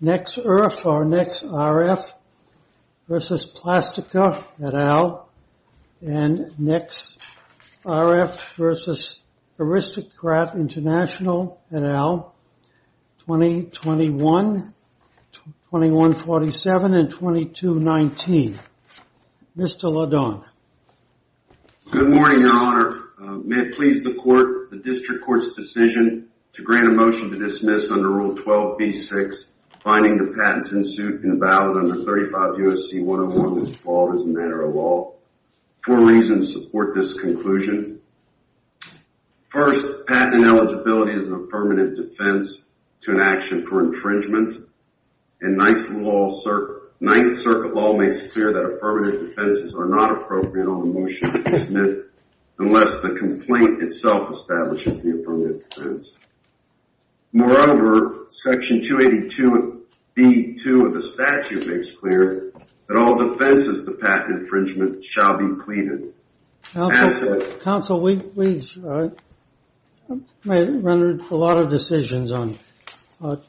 NexRF or NexRF v. Playtika Ltd. and NexRF v. Aristocrat International Ltd. 2021, 2147, and 2219. Mr. LaDonne. Good morning, your honor. May it please the court, the district court's decision to grant a motion to dismiss under Rule 12b-6, finding the patents in suit and valid under 35 U.S.C. 101, was called as a matter of law. Four reasons support this conclusion. First, patent eligibility is an affirmative defense to an action for infringement, and Ninth Circuit law makes clear that affirmative defenses are not appropriate on a motion to dismiss. Moreover, Section 282b-2 of the statute makes clear that all defenses of the patent infringement shall be pleaded. Counsel, counsel, we may have rendered a lot of decisions on Rule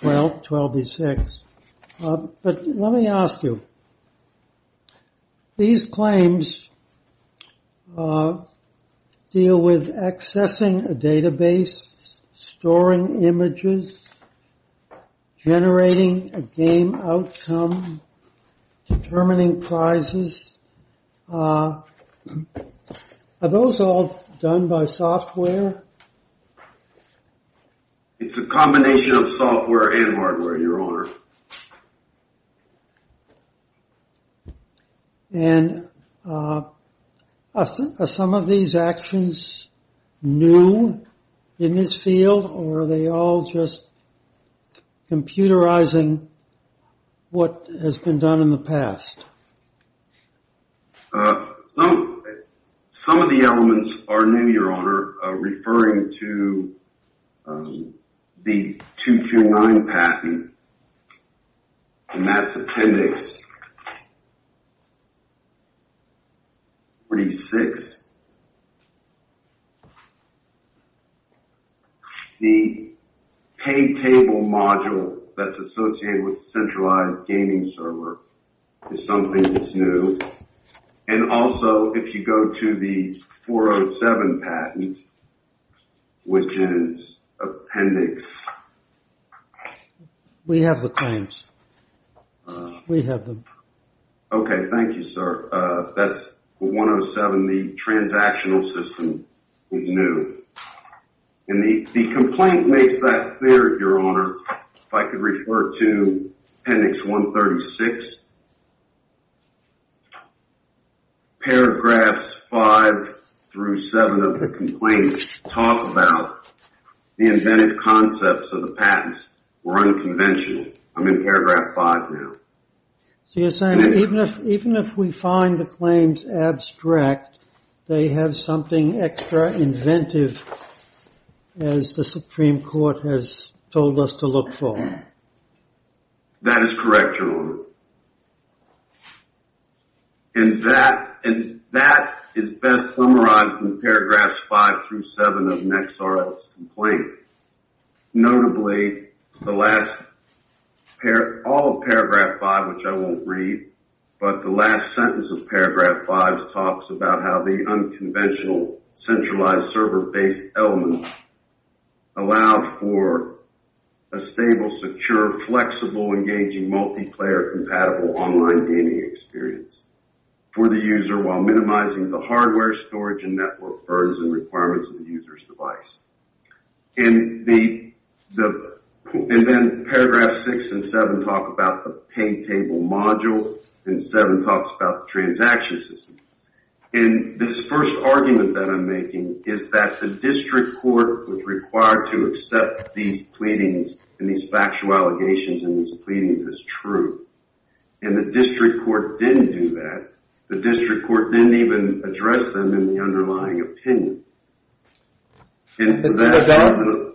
12b-6, but let me ask you, these claims deal with accessing a database, storing images, generating a game outcome, determining prizes. Are those all done by software? It's a combination of software and hardware, your honor. And are some of these actions new in this field, or are they all just computerizing what has been done in the past? Some of the elements are new, your honor, referring to the 229 patent, and that's Appendix 406. The pay table module that's associated with centralized gaming server is something that's new. And also, if you go to the 407 patent, which is Appendix... We have the claims. We have them. Okay, thank you, sir. That's 107, the transactional system is new. And the complaint makes that clear, your honor, if I could refer to Appendix 136. Paragraphs 5 through 7 of the complaint talk about the inventive concepts of the patents were unconventional. I'm in paragraph 5 now. So you're saying even if we find the claims abstract, they have something extra inventive, as the Supreme Court has told us to look for? That is correct, your honor. And that is best summarized in paragraphs 5 through 7 of Nexar's complaint. Notably, all of paragraph 5, which I won't read, but the last sentence of paragraph 5 talks about how the unconventional centralized server-based elements allowed for a stable, secure, flexible, engaging, multiplayer-compatible online gaming experience for the user while And then paragraph 6 and 7 talk about the pay table module, and 7 talks about the transaction system. And this first argument that I'm making is that the district court was required to accept these pleadings and these factual allegations and these pleadings as true. And the district court didn't do that. The district court didn't even address them in the underlying opinion. Mr. O'Donnell,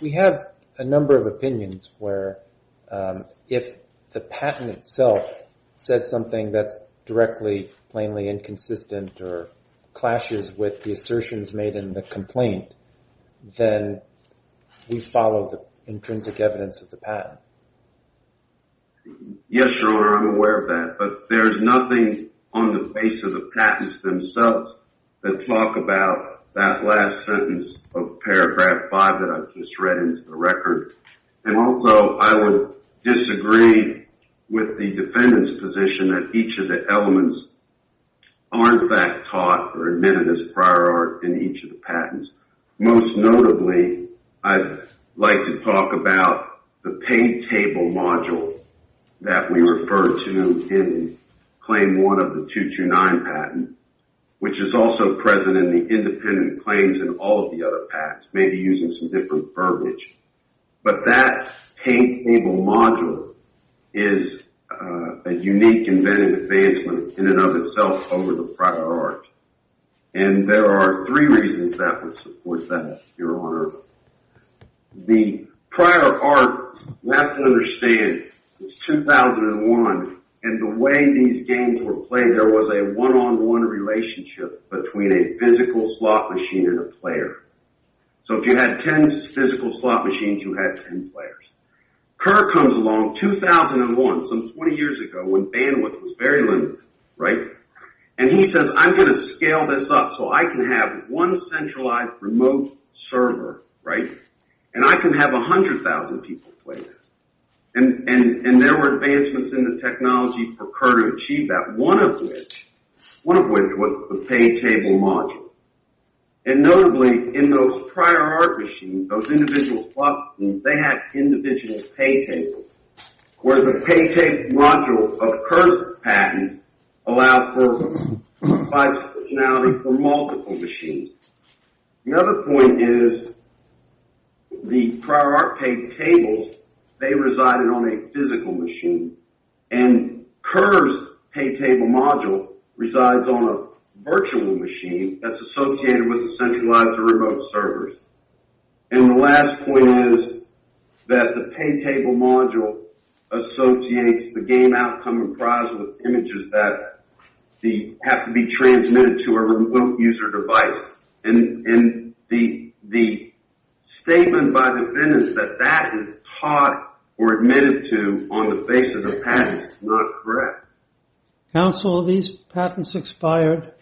we have a number of opinions where if the patent itself says something that's directly, plainly inconsistent or clashes with the assertions made in the complaint, then we follow the intrinsic evidence of the patent. Yes, your honor, I'm aware of that. But there's nothing on the base of the patents themselves that talk about that last sentence of paragraph 5 that I've just read into the record. And also, I would disagree with the defendant's position that each of the elements aren't that taught or admitted as prior art in each of the patents. Most notably, I'd like to in the independent claims in all of the other pacts, maybe using some different verbiage. But that pay table module is a unique inventive advancement in and of itself over the prior art. And there are three reasons that would support that, your honor. The prior art, you have to understand, it's 2001. And the way these games were played, there was a one-on-one relationship between a physical slot machine and a player. So if you had 10 physical slot machines, you had 10 players. Kerr comes along 2001, so 20 years ago when bandwidth was very limited, right? And he says, I'm going to scale this up so I can have one centralized remote server, right? And I can have 100,000 people play that. And there were advancements in the technology for Kerr to achieve that, one of which was the pay table module. And notably, in those prior art machines, those individual slot machines, they had individual pay tables, where the pay table module of Kerr's patents allows for functionality for multiple machines. Another point is the prior art pay tables, they resided on a physical machine. And Kerr's pay table module resides on a virtual machine that's associated with the centralized remote servers. And the last point is that the pay table module associates the game outcome comprised with images that have to be transmitted to a remote user device. And the statement by the defendants that that is taught or admitted to on the basis of patents is not correct. Counsel, are these patents expired?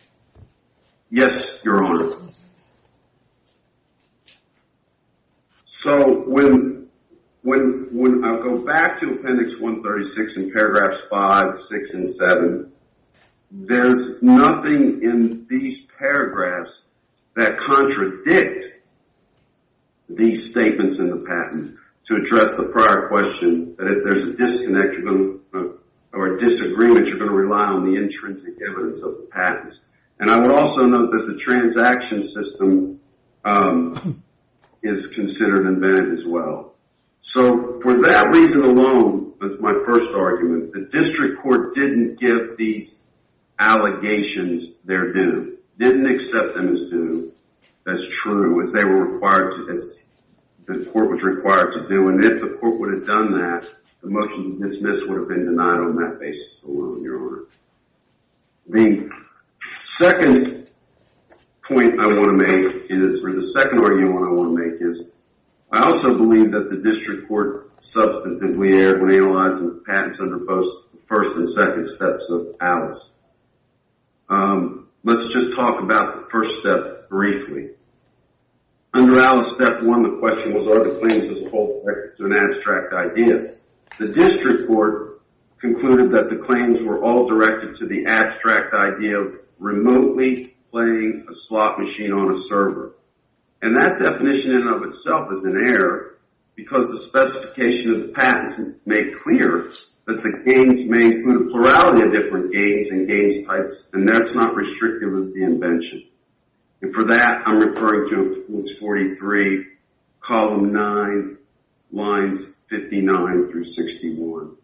Yes, Your Honor. So when I go back to appendix 136 and paragraphs 5, 6, and 7, there's nothing in these paragraphs that contradict these statements in the patent to address the prior question that if there's a disconnect or a disagreement, you're going to rely on the intrinsic evidence of the patents. And I would also note that the transaction system is considered invented as well. So for that reason alone, that's my first argument, the district court didn't give these allegations their due, didn't accept them as due. That's true, as they were required to, as the court was required to do. And if the court would have done that, the motion to dismiss would have been denied on that basis alone, Your Honor. The second point I want to make is, or the second argument I want to make is, I also believe that the district court substantively erred when analyzing the patents under both the first and second steps of Alice. Let's just talk about the first step briefly. Under Alice step one, the question was, are the claims as a whole directed to an abstract idea? The district court concluded that the claims were all directed to the abstract idea of remotely playing a slot machine on a server. And that definition in and of itself is an error because the specification of the patents made clear that the games may include a plurality of different games and games types, and that's not restrictive of the invention. And for that, I'm referring to books 43, column nine, lines 59 through 61.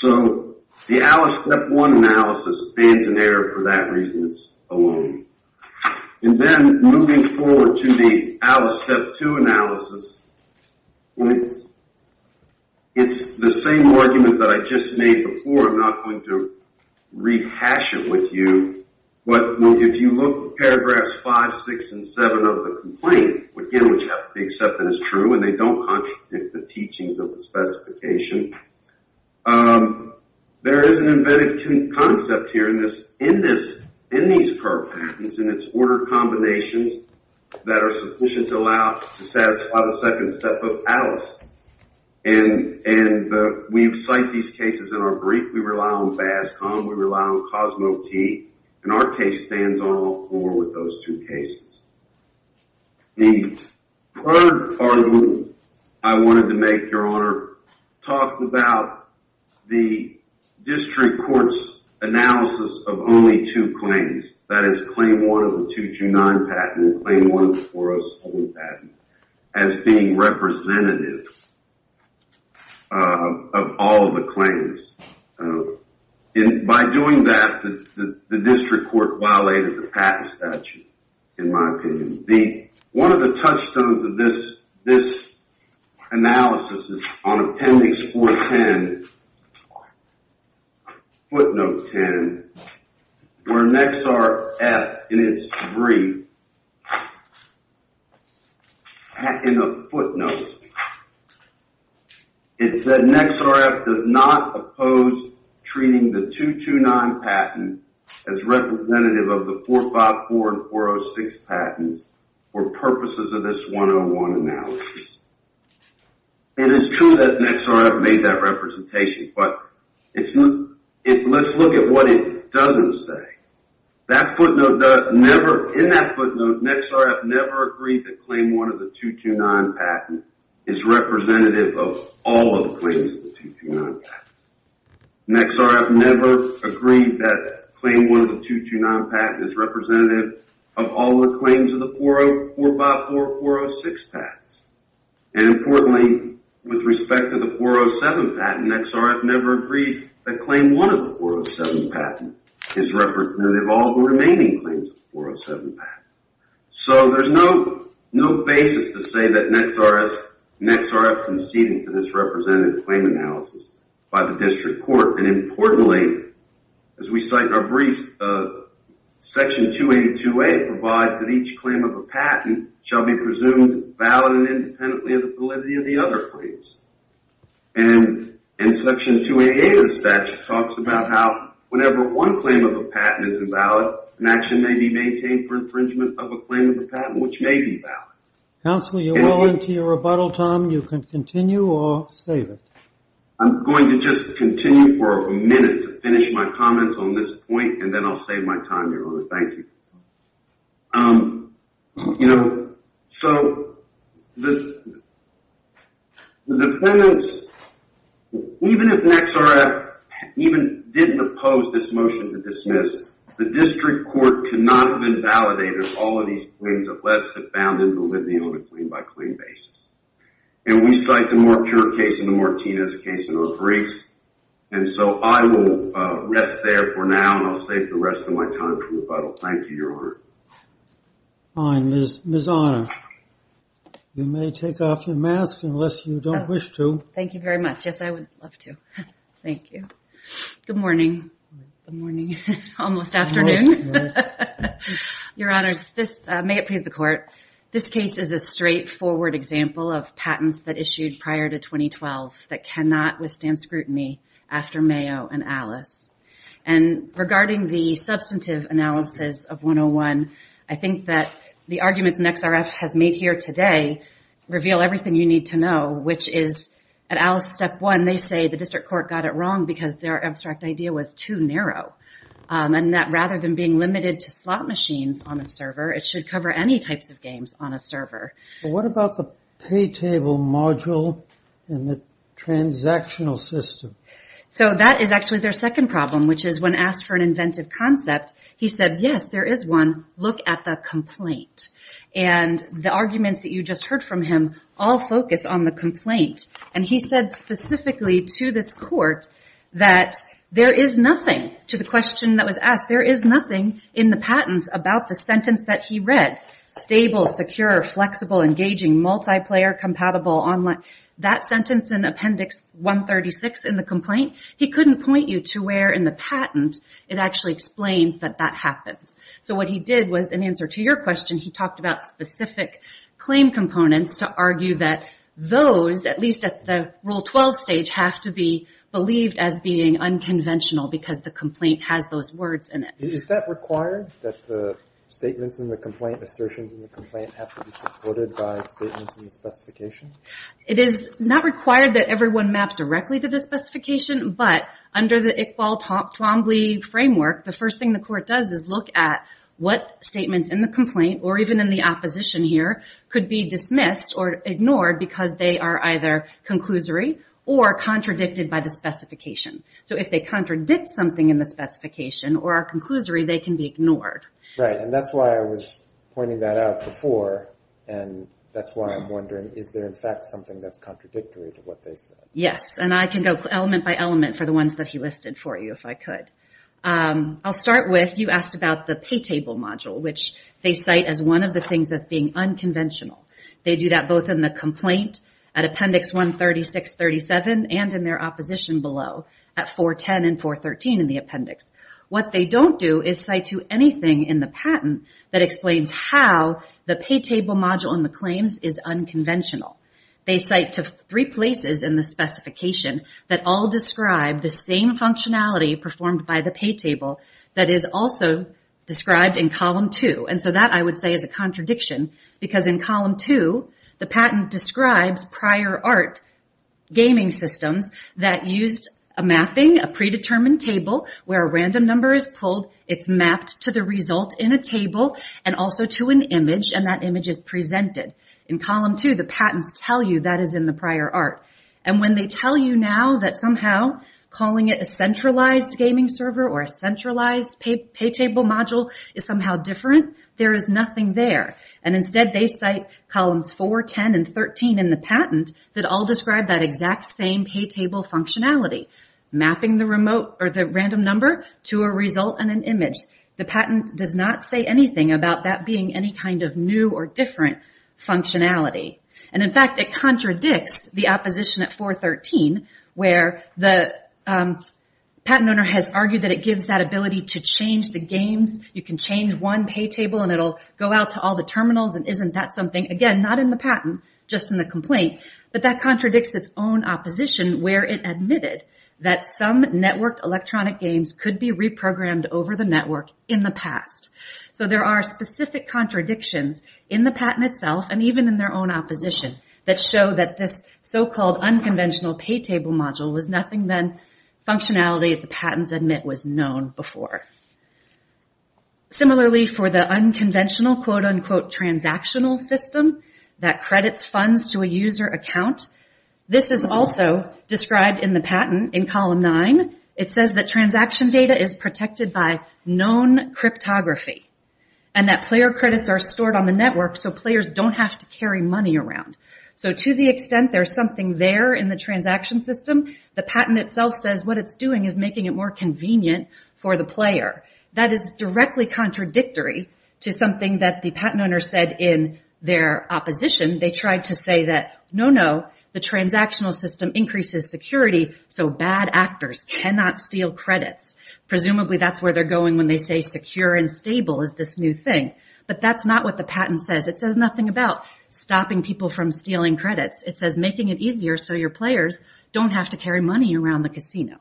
So the Alice step one analysis stands in error for that reason alone. And then moving forward to the Alice step two analysis, it's the same argument that I just made before. I'm not going to rehash it with you, but if you look at paragraphs five, six, and seven of the complaint, again, which have to be accepted as true, and they don't contradict the teachings of the specification, there is an embedded concept here in this, in this, in these programs, in its order combinations that are sufficient to allow, to satisfy the second Alice. And, and we've cited these cases in our brief, we rely on BASCOM, we rely on COSMOTE, and our case stands on all four with those two cases. The third argument I wanted to make, Your Honor, talks about the district court's analysis of only two claims, that is claim one 229 patent, claim 1407 patent, as being representative of all the claims. By doing that, the district court violated the patent statute, in my opinion. The, one of the touchstones of this, this analysis is on appendix 410, footnote 10, where NXRF, in its brief, in the footnotes, it said NXRF does not oppose treating the 229 patent as representative of the 454 and 406 patents for purposes of this 101 analysis. It is true that NXRF made that representation, but it's, let's look at what it doesn't say. That footnote does never, in that footnote, NXRF never agreed that claim one of the 229 patent is representative of all of the claims of the 229 patent. NXRF never agreed that claim one of the 229 patent is representative of all the claims of the 454 and 406 patents. And importantly, with respect to the 407 patent, NXRF never agreed that claim one of the 407 patent is representative of all the remaining claims of the 407 patent. So there's no basis to say that NXRF conceded to this representative claim analysis by the district court. And importantly, as we cite in our brief, section 282A provides that each claim of a patent shall be presumed valid and independently of the validity of the other claims. And section 288 of the statute talks about how whenever one claim of a patent is invalid, an action may be maintained for infringement of a claim of a patent which may be valid. Counselor, you're well into your rebuttal time. You can continue or save it. I'm going to just continue for a minute to finish my comments on this point, and then I'll save my time, Your Honor. Thank you. You know, so the defendants, even if NXRF even didn't oppose this motion to dismiss, the district court could not have validated all of these claims unless it found invalidity on a claim-by-claim basis. And we cite the Mortier case and the Martinez case in our briefs. And so I will rest there for now, and I'll save the rest of my time for rebuttal. Thank you, Your Honor. Fine, Ms. Honor. You may take off your mask unless you don't wish to. Thank you very much. Yes, I would love to. Thank you. Good morning. Good morning. Almost afternoon. Your Honors, may it please the Court, this case is a straightforward example of patents that issued prior to 2012 that cannot withstand scrutiny after Mayo and Alice. And regarding the substantive analysis of 101, I think that the arguments NXRF has made here today reveal everything you need to know, which is at Alice Step 1, they say the district court got it wrong because their abstract idea was too narrow, and that rather than being limited to slot machines on a server, it should cover any types of games on a server. What about the pay table module and the transactional system? So that is actually their second problem, which is when asked for an inventive concept, he said, yes, there is one. Look at the complaint. And the arguments that you just heard from him all focus on the complaint. And he said specifically to this court that there is nothing, to the question that was asked, there is nothing in the patents about the sentence that he read, stable, secure, flexible, engaging, multiplayer, compatible, online. That sentence in Appendix 136 in the complaint, he couldn't point you to where in the patent it actually explains that that happens. So what he did was, in answer to your question, he talked about specific claim components to argue that those, at least at the Rule 12 stage, have to be believed as being unconventional because the complaint has those words in it. Is that required, that the statements in the complaint, assertions in the complaint, have to be supported by statements in the specification? It is not required that everyone map directly to the specification, but under the Iqbal-Twombly framework, the first thing the court does is look at what statements in the complaint, or even in the opposition here, could be dismissed or ignored because they are either conclusory or contradicted by the specification. So if they contradict something in the specification or are conclusory, they can be ignored. Right, and that's why I was pointing that out before, and that's why I'm wondering, is there in fact something that's contradictory to what they said? Yes, and I can go element by element for the ones that he listed for you, if I could. I'll start with, you asked about the pay table module, which they cite as one of the things that's being unconventional. They do that both in the complaint, at Appendix 136-37, and in their opposition below, at 410 and 413 in the appendix. What they don't do is cite to anything in the patent that explains how the pay table module and the claims is unconventional. They cite to three places in the specification that all describe the same functionality performed by the pay table that is also described in Column 2, and so that I would say is a contradiction, because in Column 2, the patent describes prior art gaming systems that used a mapping, a predetermined table, where a random number is pulled, it's mapped to the result in a table, and also to an image, and that image is presented. In Column 2, the patents tell you that is in the prior art, and when they tell you now that somehow calling it a centralized gaming server or a centralized pay table module is somehow different, there is nothing there, and instead they cite Columns 4, 10, and 13 in the patent that all describe that exact same pay table functionality, mapping the random number to a result and an image. The patent does not say anything about that being any kind of new or different functionality, and in fact, it contradicts the opposition at 413, where the patent owner has argued that it gives that ability to change the games. You can change one pay table, and it'll go out to all the terminals, and isn't that something? Again, not in the patent, just in the complaint, but that contradicts its own opposition where it admitted that some contradictions in the patent itself and even in their own opposition that show that this so-called unconventional pay table module was nothing than functionality the patents admit was known before. Similarly, for the unconventional quote-unquote transactional system that credits funds to a user account, this is also described in the patent in Column 9. It says that transaction data is protected by known cryptography, and that player credits are stored on the network so players don't have to carry money around. So to the extent there's something there in the transaction system, the patent itself says what it's doing is making it more convenient for the player. That is directly contradictory to something that the patent owner said in their opposition. They tried to say that no, no, the transactional system increases security, so bad actors cannot steal credits. Presumably, that's where they're going when they say secure and stable is this new thing, but that's not what the patent says. It says nothing about stopping people from stealing credits. It says making it easier so your players don't have to carry money around the casino.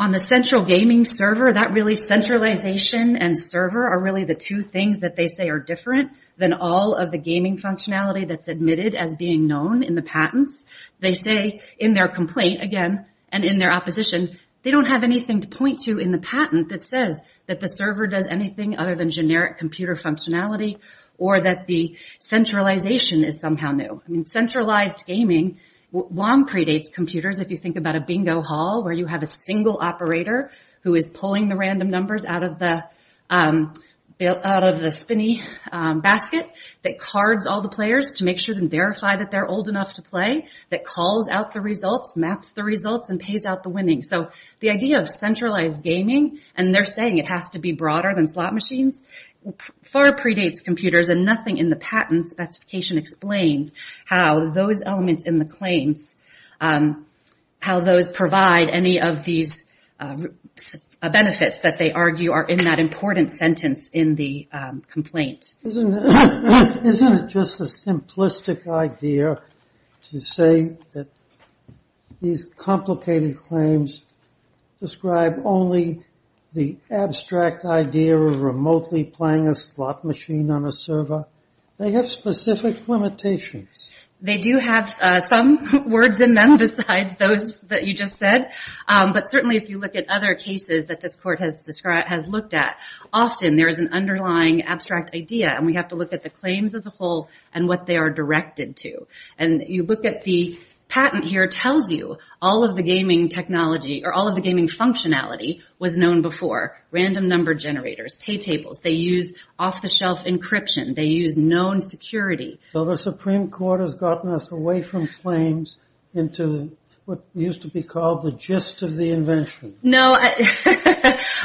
On the central gaming server, that really centralization and server are really the two things that they say are different than all of the gaming functionality that's admitted as being known in the patents. They say in their opposition, they don't have anything to point to in the patent that says that the server does anything other than generic computer functionality or that the centralization is somehow new. Centralized gaming long predates computers. If you think about a bingo hall where you have a single operator who is pulling the random numbers out of the spinny basket that cards all the players to make sure and verify that they're old enough to play, that calls out the results, maps the results, and pays out the winning. The idea of centralized gaming, and they're saying it has to be broader than slot machines, far predates computers. Nothing in the patent specification explains how those elements in the claims, how those provide any of these benefits that they argue are in that important sentence in the complaint. Isn't it just a simplistic idea to say that these complicated claims describe only the abstract idea of remotely playing a slot machine on a server? They have specific limitations. They do have some words in them besides those that you just said, but certainly if you look at other cases that this court has described, has looked at, often there is an underlying abstract idea and we have to look at the claims as a whole and what they are directed to and you look at the patent here tells you all of the gaming technology or all of the gaming functionality was known before. Random number generators, pay tables, they use off-the-shelf encryption, they use known security. Well the Supreme Court has gotten us away from claims into what used to be called the gist of the invention. No,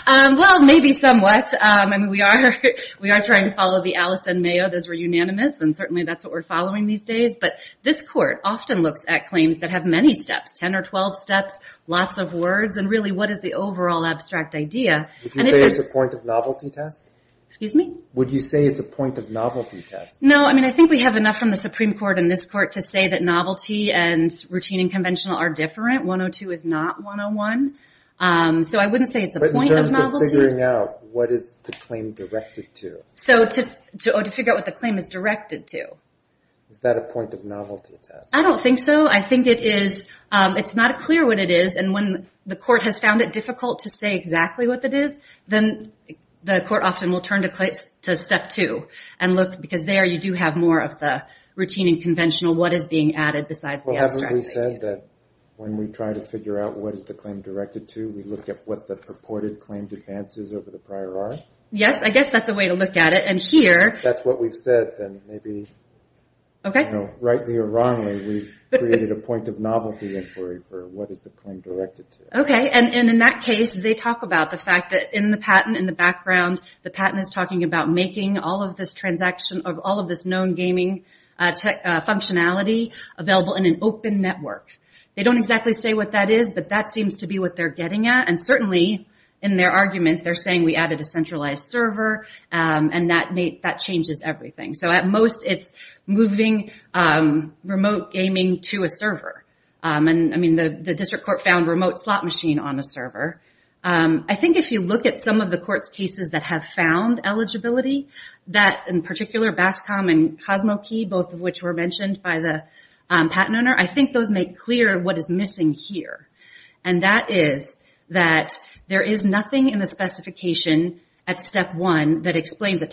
well maybe somewhat. I mean we are we are trying to follow the Alice and Mayo. Those were unanimous and certainly that's what we're trying to do these days, but this court often looks at claims that have many steps, 10 or 12 steps, lots of words, and really what is the overall abstract idea. Would you say it's a point of novelty test? Excuse me? Would you say it's a point of novelty test? No, I mean I think we have enough from the Supreme Court and this court to say that novelty and routine and conventional are different. 102 is not 101, so I wouldn't say it's a point of novelty. But in terms of figuring out what is the claim directed to? Is that a point of novelty test? I don't think so. I think it is, it's not clear what it is and when the court has found it difficult to say exactly what it is, then the court often will turn to step two and look, because there you do have more of the routine and conventional, what is being added besides the abstract. Well, haven't we said that when we try to figure out what is the claim directed to, we look at what the purported claimed advances over the prior are? Yes, I guess that's a point of novelty inquiry for what is the claim directed to. Okay, and in that case, they talk about the fact that in the patent, in the background, the patent is talking about making all of this known gaming functionality available in an open network. They don't exactly say what that is, but that seems to be what they're getting at, and certainly, in their arguments, they're saying we added a centralized server, and that changes everything. At most, it's moving remote gaming to a server. The district court found remote slot machine on a server. I think if you look at some of the court's cases that have found eligibility, that in particular, BASCOM and CosmoKey, both of which were mentioned by the patent owner, I think those make clear what is missing here, and that is that there is nothing in the specification at step one that explains a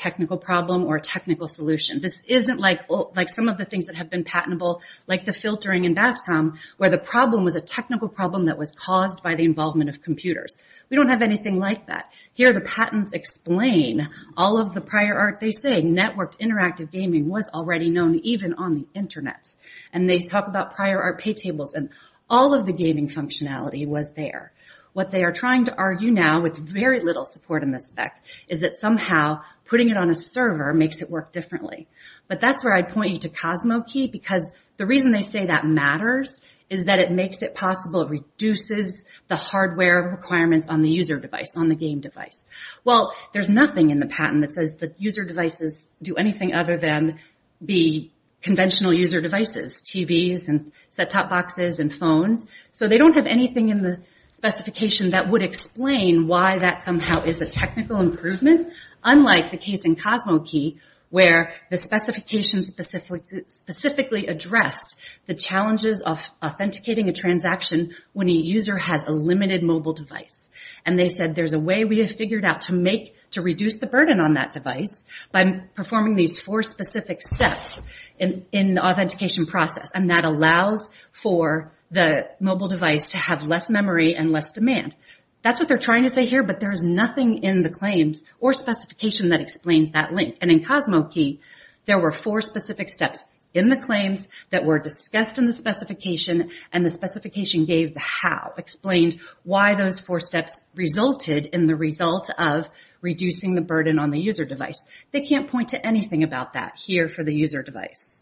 solution. This isn't like some of the things that have been patentable, like the filtering in BASCOM, where the problem was a technical problem that was caused by the involvement of computers. We don't have anything like that. Here, the patents explain all of the prior art. They say networked interactive gaming was already known even on the internet, and they talk about prior art pay tables, and all of the gaming functionality was there. What they are trying to argue now, with very little support in the spec, is that somehow putting it on a server makes it work differently. That's where I point you to CosmoKey, because the reason they say that matters is that it makes it possible, reduces the hardware requirements on the user device, on the game device. Well, there's nothing in the patent that says that user devices do anything other than be conventional user devices, TVs and set-top boxes and phones. They don't have anything in the specification that would explain why that somehow is a technical improvement, unlike the case in CosmoKey, where the specification specifically addressed the challenges of authenticating a transaction when a user has a limited mobile device. They said there's a way we have figured out to reduce the burden on that device by performing these four specific steps in the authentication process. That allows for the mobile device to have less memory and less demand. That's what they're trying to say here, but there's nothing in the claims or specification that explains that link. In CosmoKey, there were four specific steps in the claims that were discussed in the specification, and the specification gave the how, explained why those four steps resulted in the result of reducing the burden on the user device. They can't point to anything about that here for the user device.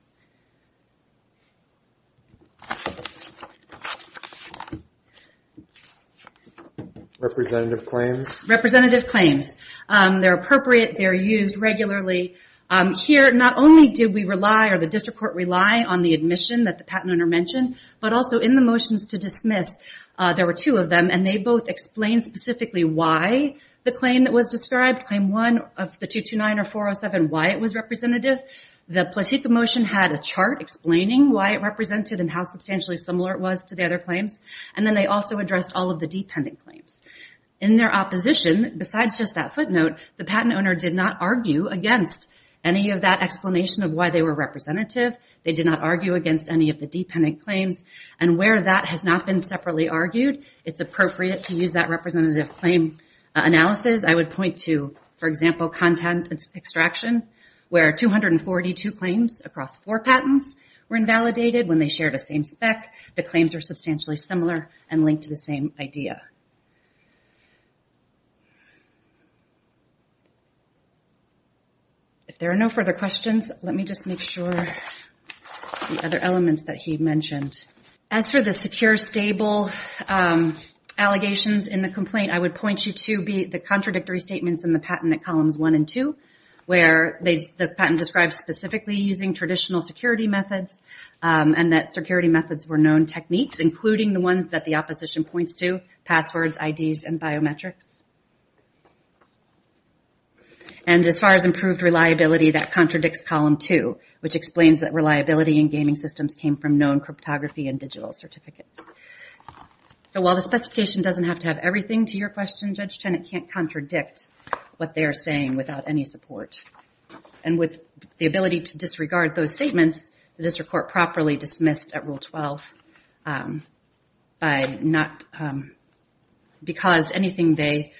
Representative claims. Representative claims. They're appropriate. They're used regularly. Here, not only did we rely, or the district court relied, on the admission that the patent owner mentioned, but also in the motions to dismiss, there were two of them, and they both explained specifically why the claim that was described, claim one of the 229 or 407, why it was representative. The platique of motion had a chart explaining why it represented and how substantially similar it was to the other claims. Then they also addressed all of the dependent claims. In their opposition, besides just that footnote, the patent owner did not argue against any of that explanation of why they were representative. They did not argue against any of the dependent claims. Where that has not been separately argued, it's appropriate to use that representative claim analysis. I would point to, for example, content extraction, where 242 claims across four patents were invalidated when they shared the same spec. The claims were substantially similar and linked to the same idea. If there are no further questions, let me just make sure the other elements that he mentioned. As for the secure stable allegations in the complaint, I would point you to the contradictory statements in the patent at columns one and two, where the patent describes specifically using traditional security methods and that security methods were known techniques, including the ones that the opposition points to, passwords, IDs, and biometrics. As far as improved reliability, that contradicts column two, which explains that reliability in gaming systems came from known cryptography and digital certificates. While the specification doesn't have to have everything to your question, Judge Tenet can't contradict what they are saying without any support. With the ability to disregard those statements, the district court properly dismissed at rule 12 because anything they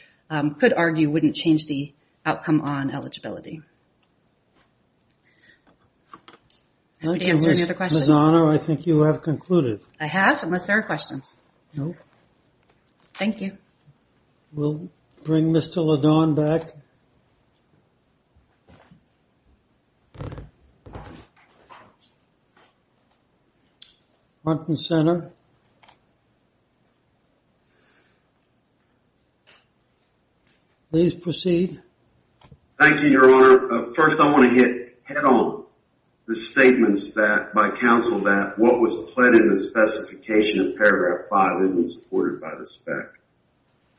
could argue wouldn't change the outcome on eligibility. I'm happy to answer any other questions. I think you have concluded. I have, unless there are questions. No. Thank you. We'll bring Mr. Ladon back. Front and center. Please proceed. Thank you, Your Honor. First, I want to hit head-on the statements by counsel that what was pled in the specification of paragraph five isn't supported by the spec.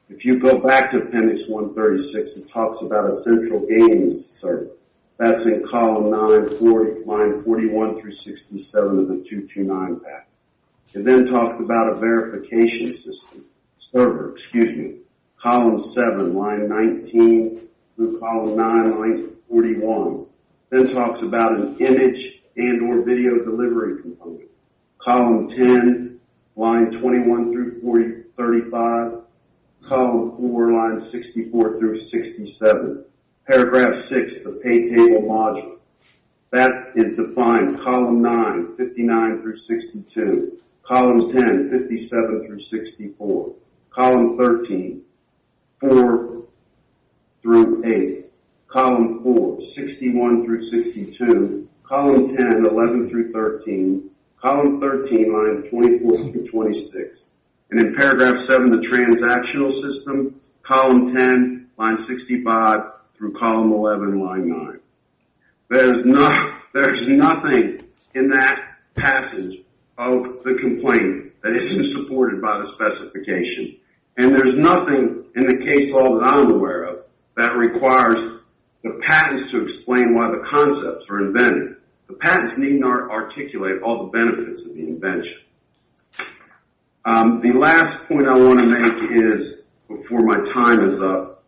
If you go back to appendix 136, it talks about a central gaming server. That's in column 940, line 41 through 67 of the 229 package. It then talks about a verification system, server, excuse me, column 7, line 19 through column 9, line 41. It talks about an image and or video delivery component. Column 10, line 21 through 35. Column 4, line 64 through 67. Paragraph 6, the pay table module. That is defined column 9, 59 through 62. Column 10, 57 through 64. Column 13, 4 through 8. Column 4, 61 through 62. Column 10, 11 through 13. Column 13, line 24 through 26. And in paragraph 7, the transactional system. Column 10, line 65 through column 11, line 9. There's nothing in that passage of the complaint that isn't supported by the specification. And there's nothing in the case law that I'm The patents need not articulate all the benefits of the invention. The last point I want to make is, before my time is up,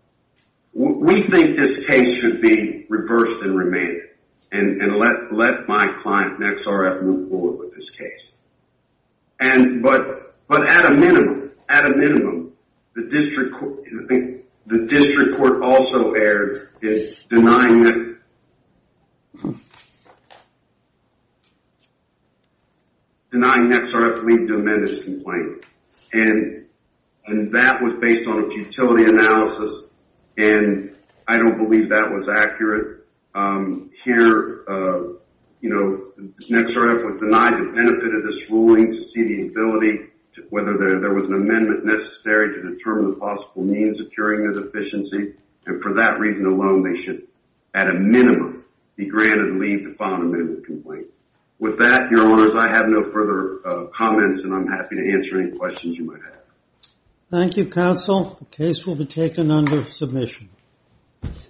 we think this case should be reversed and remanded and let my client, NexRF, move forward with this case. But at a minimum, at a minimum, the district court also erred in denying that Denying NexRF leave to amend this complaint. And that was based on its utility analysis, and I don't believe that was accurate. Here, you know, NexRF was denied the benefit of this ruling to see the ability, whether there was an amendment necessary to determine the possible means of curing their deficiency. And for that reason alone, they should, at a minimum, be granted leave to file an amendment complaint. With that, Your Honors, I have no further comments, and I'm happy to answer any questions you might have. Thank you, counsel. The case will be taken under submission.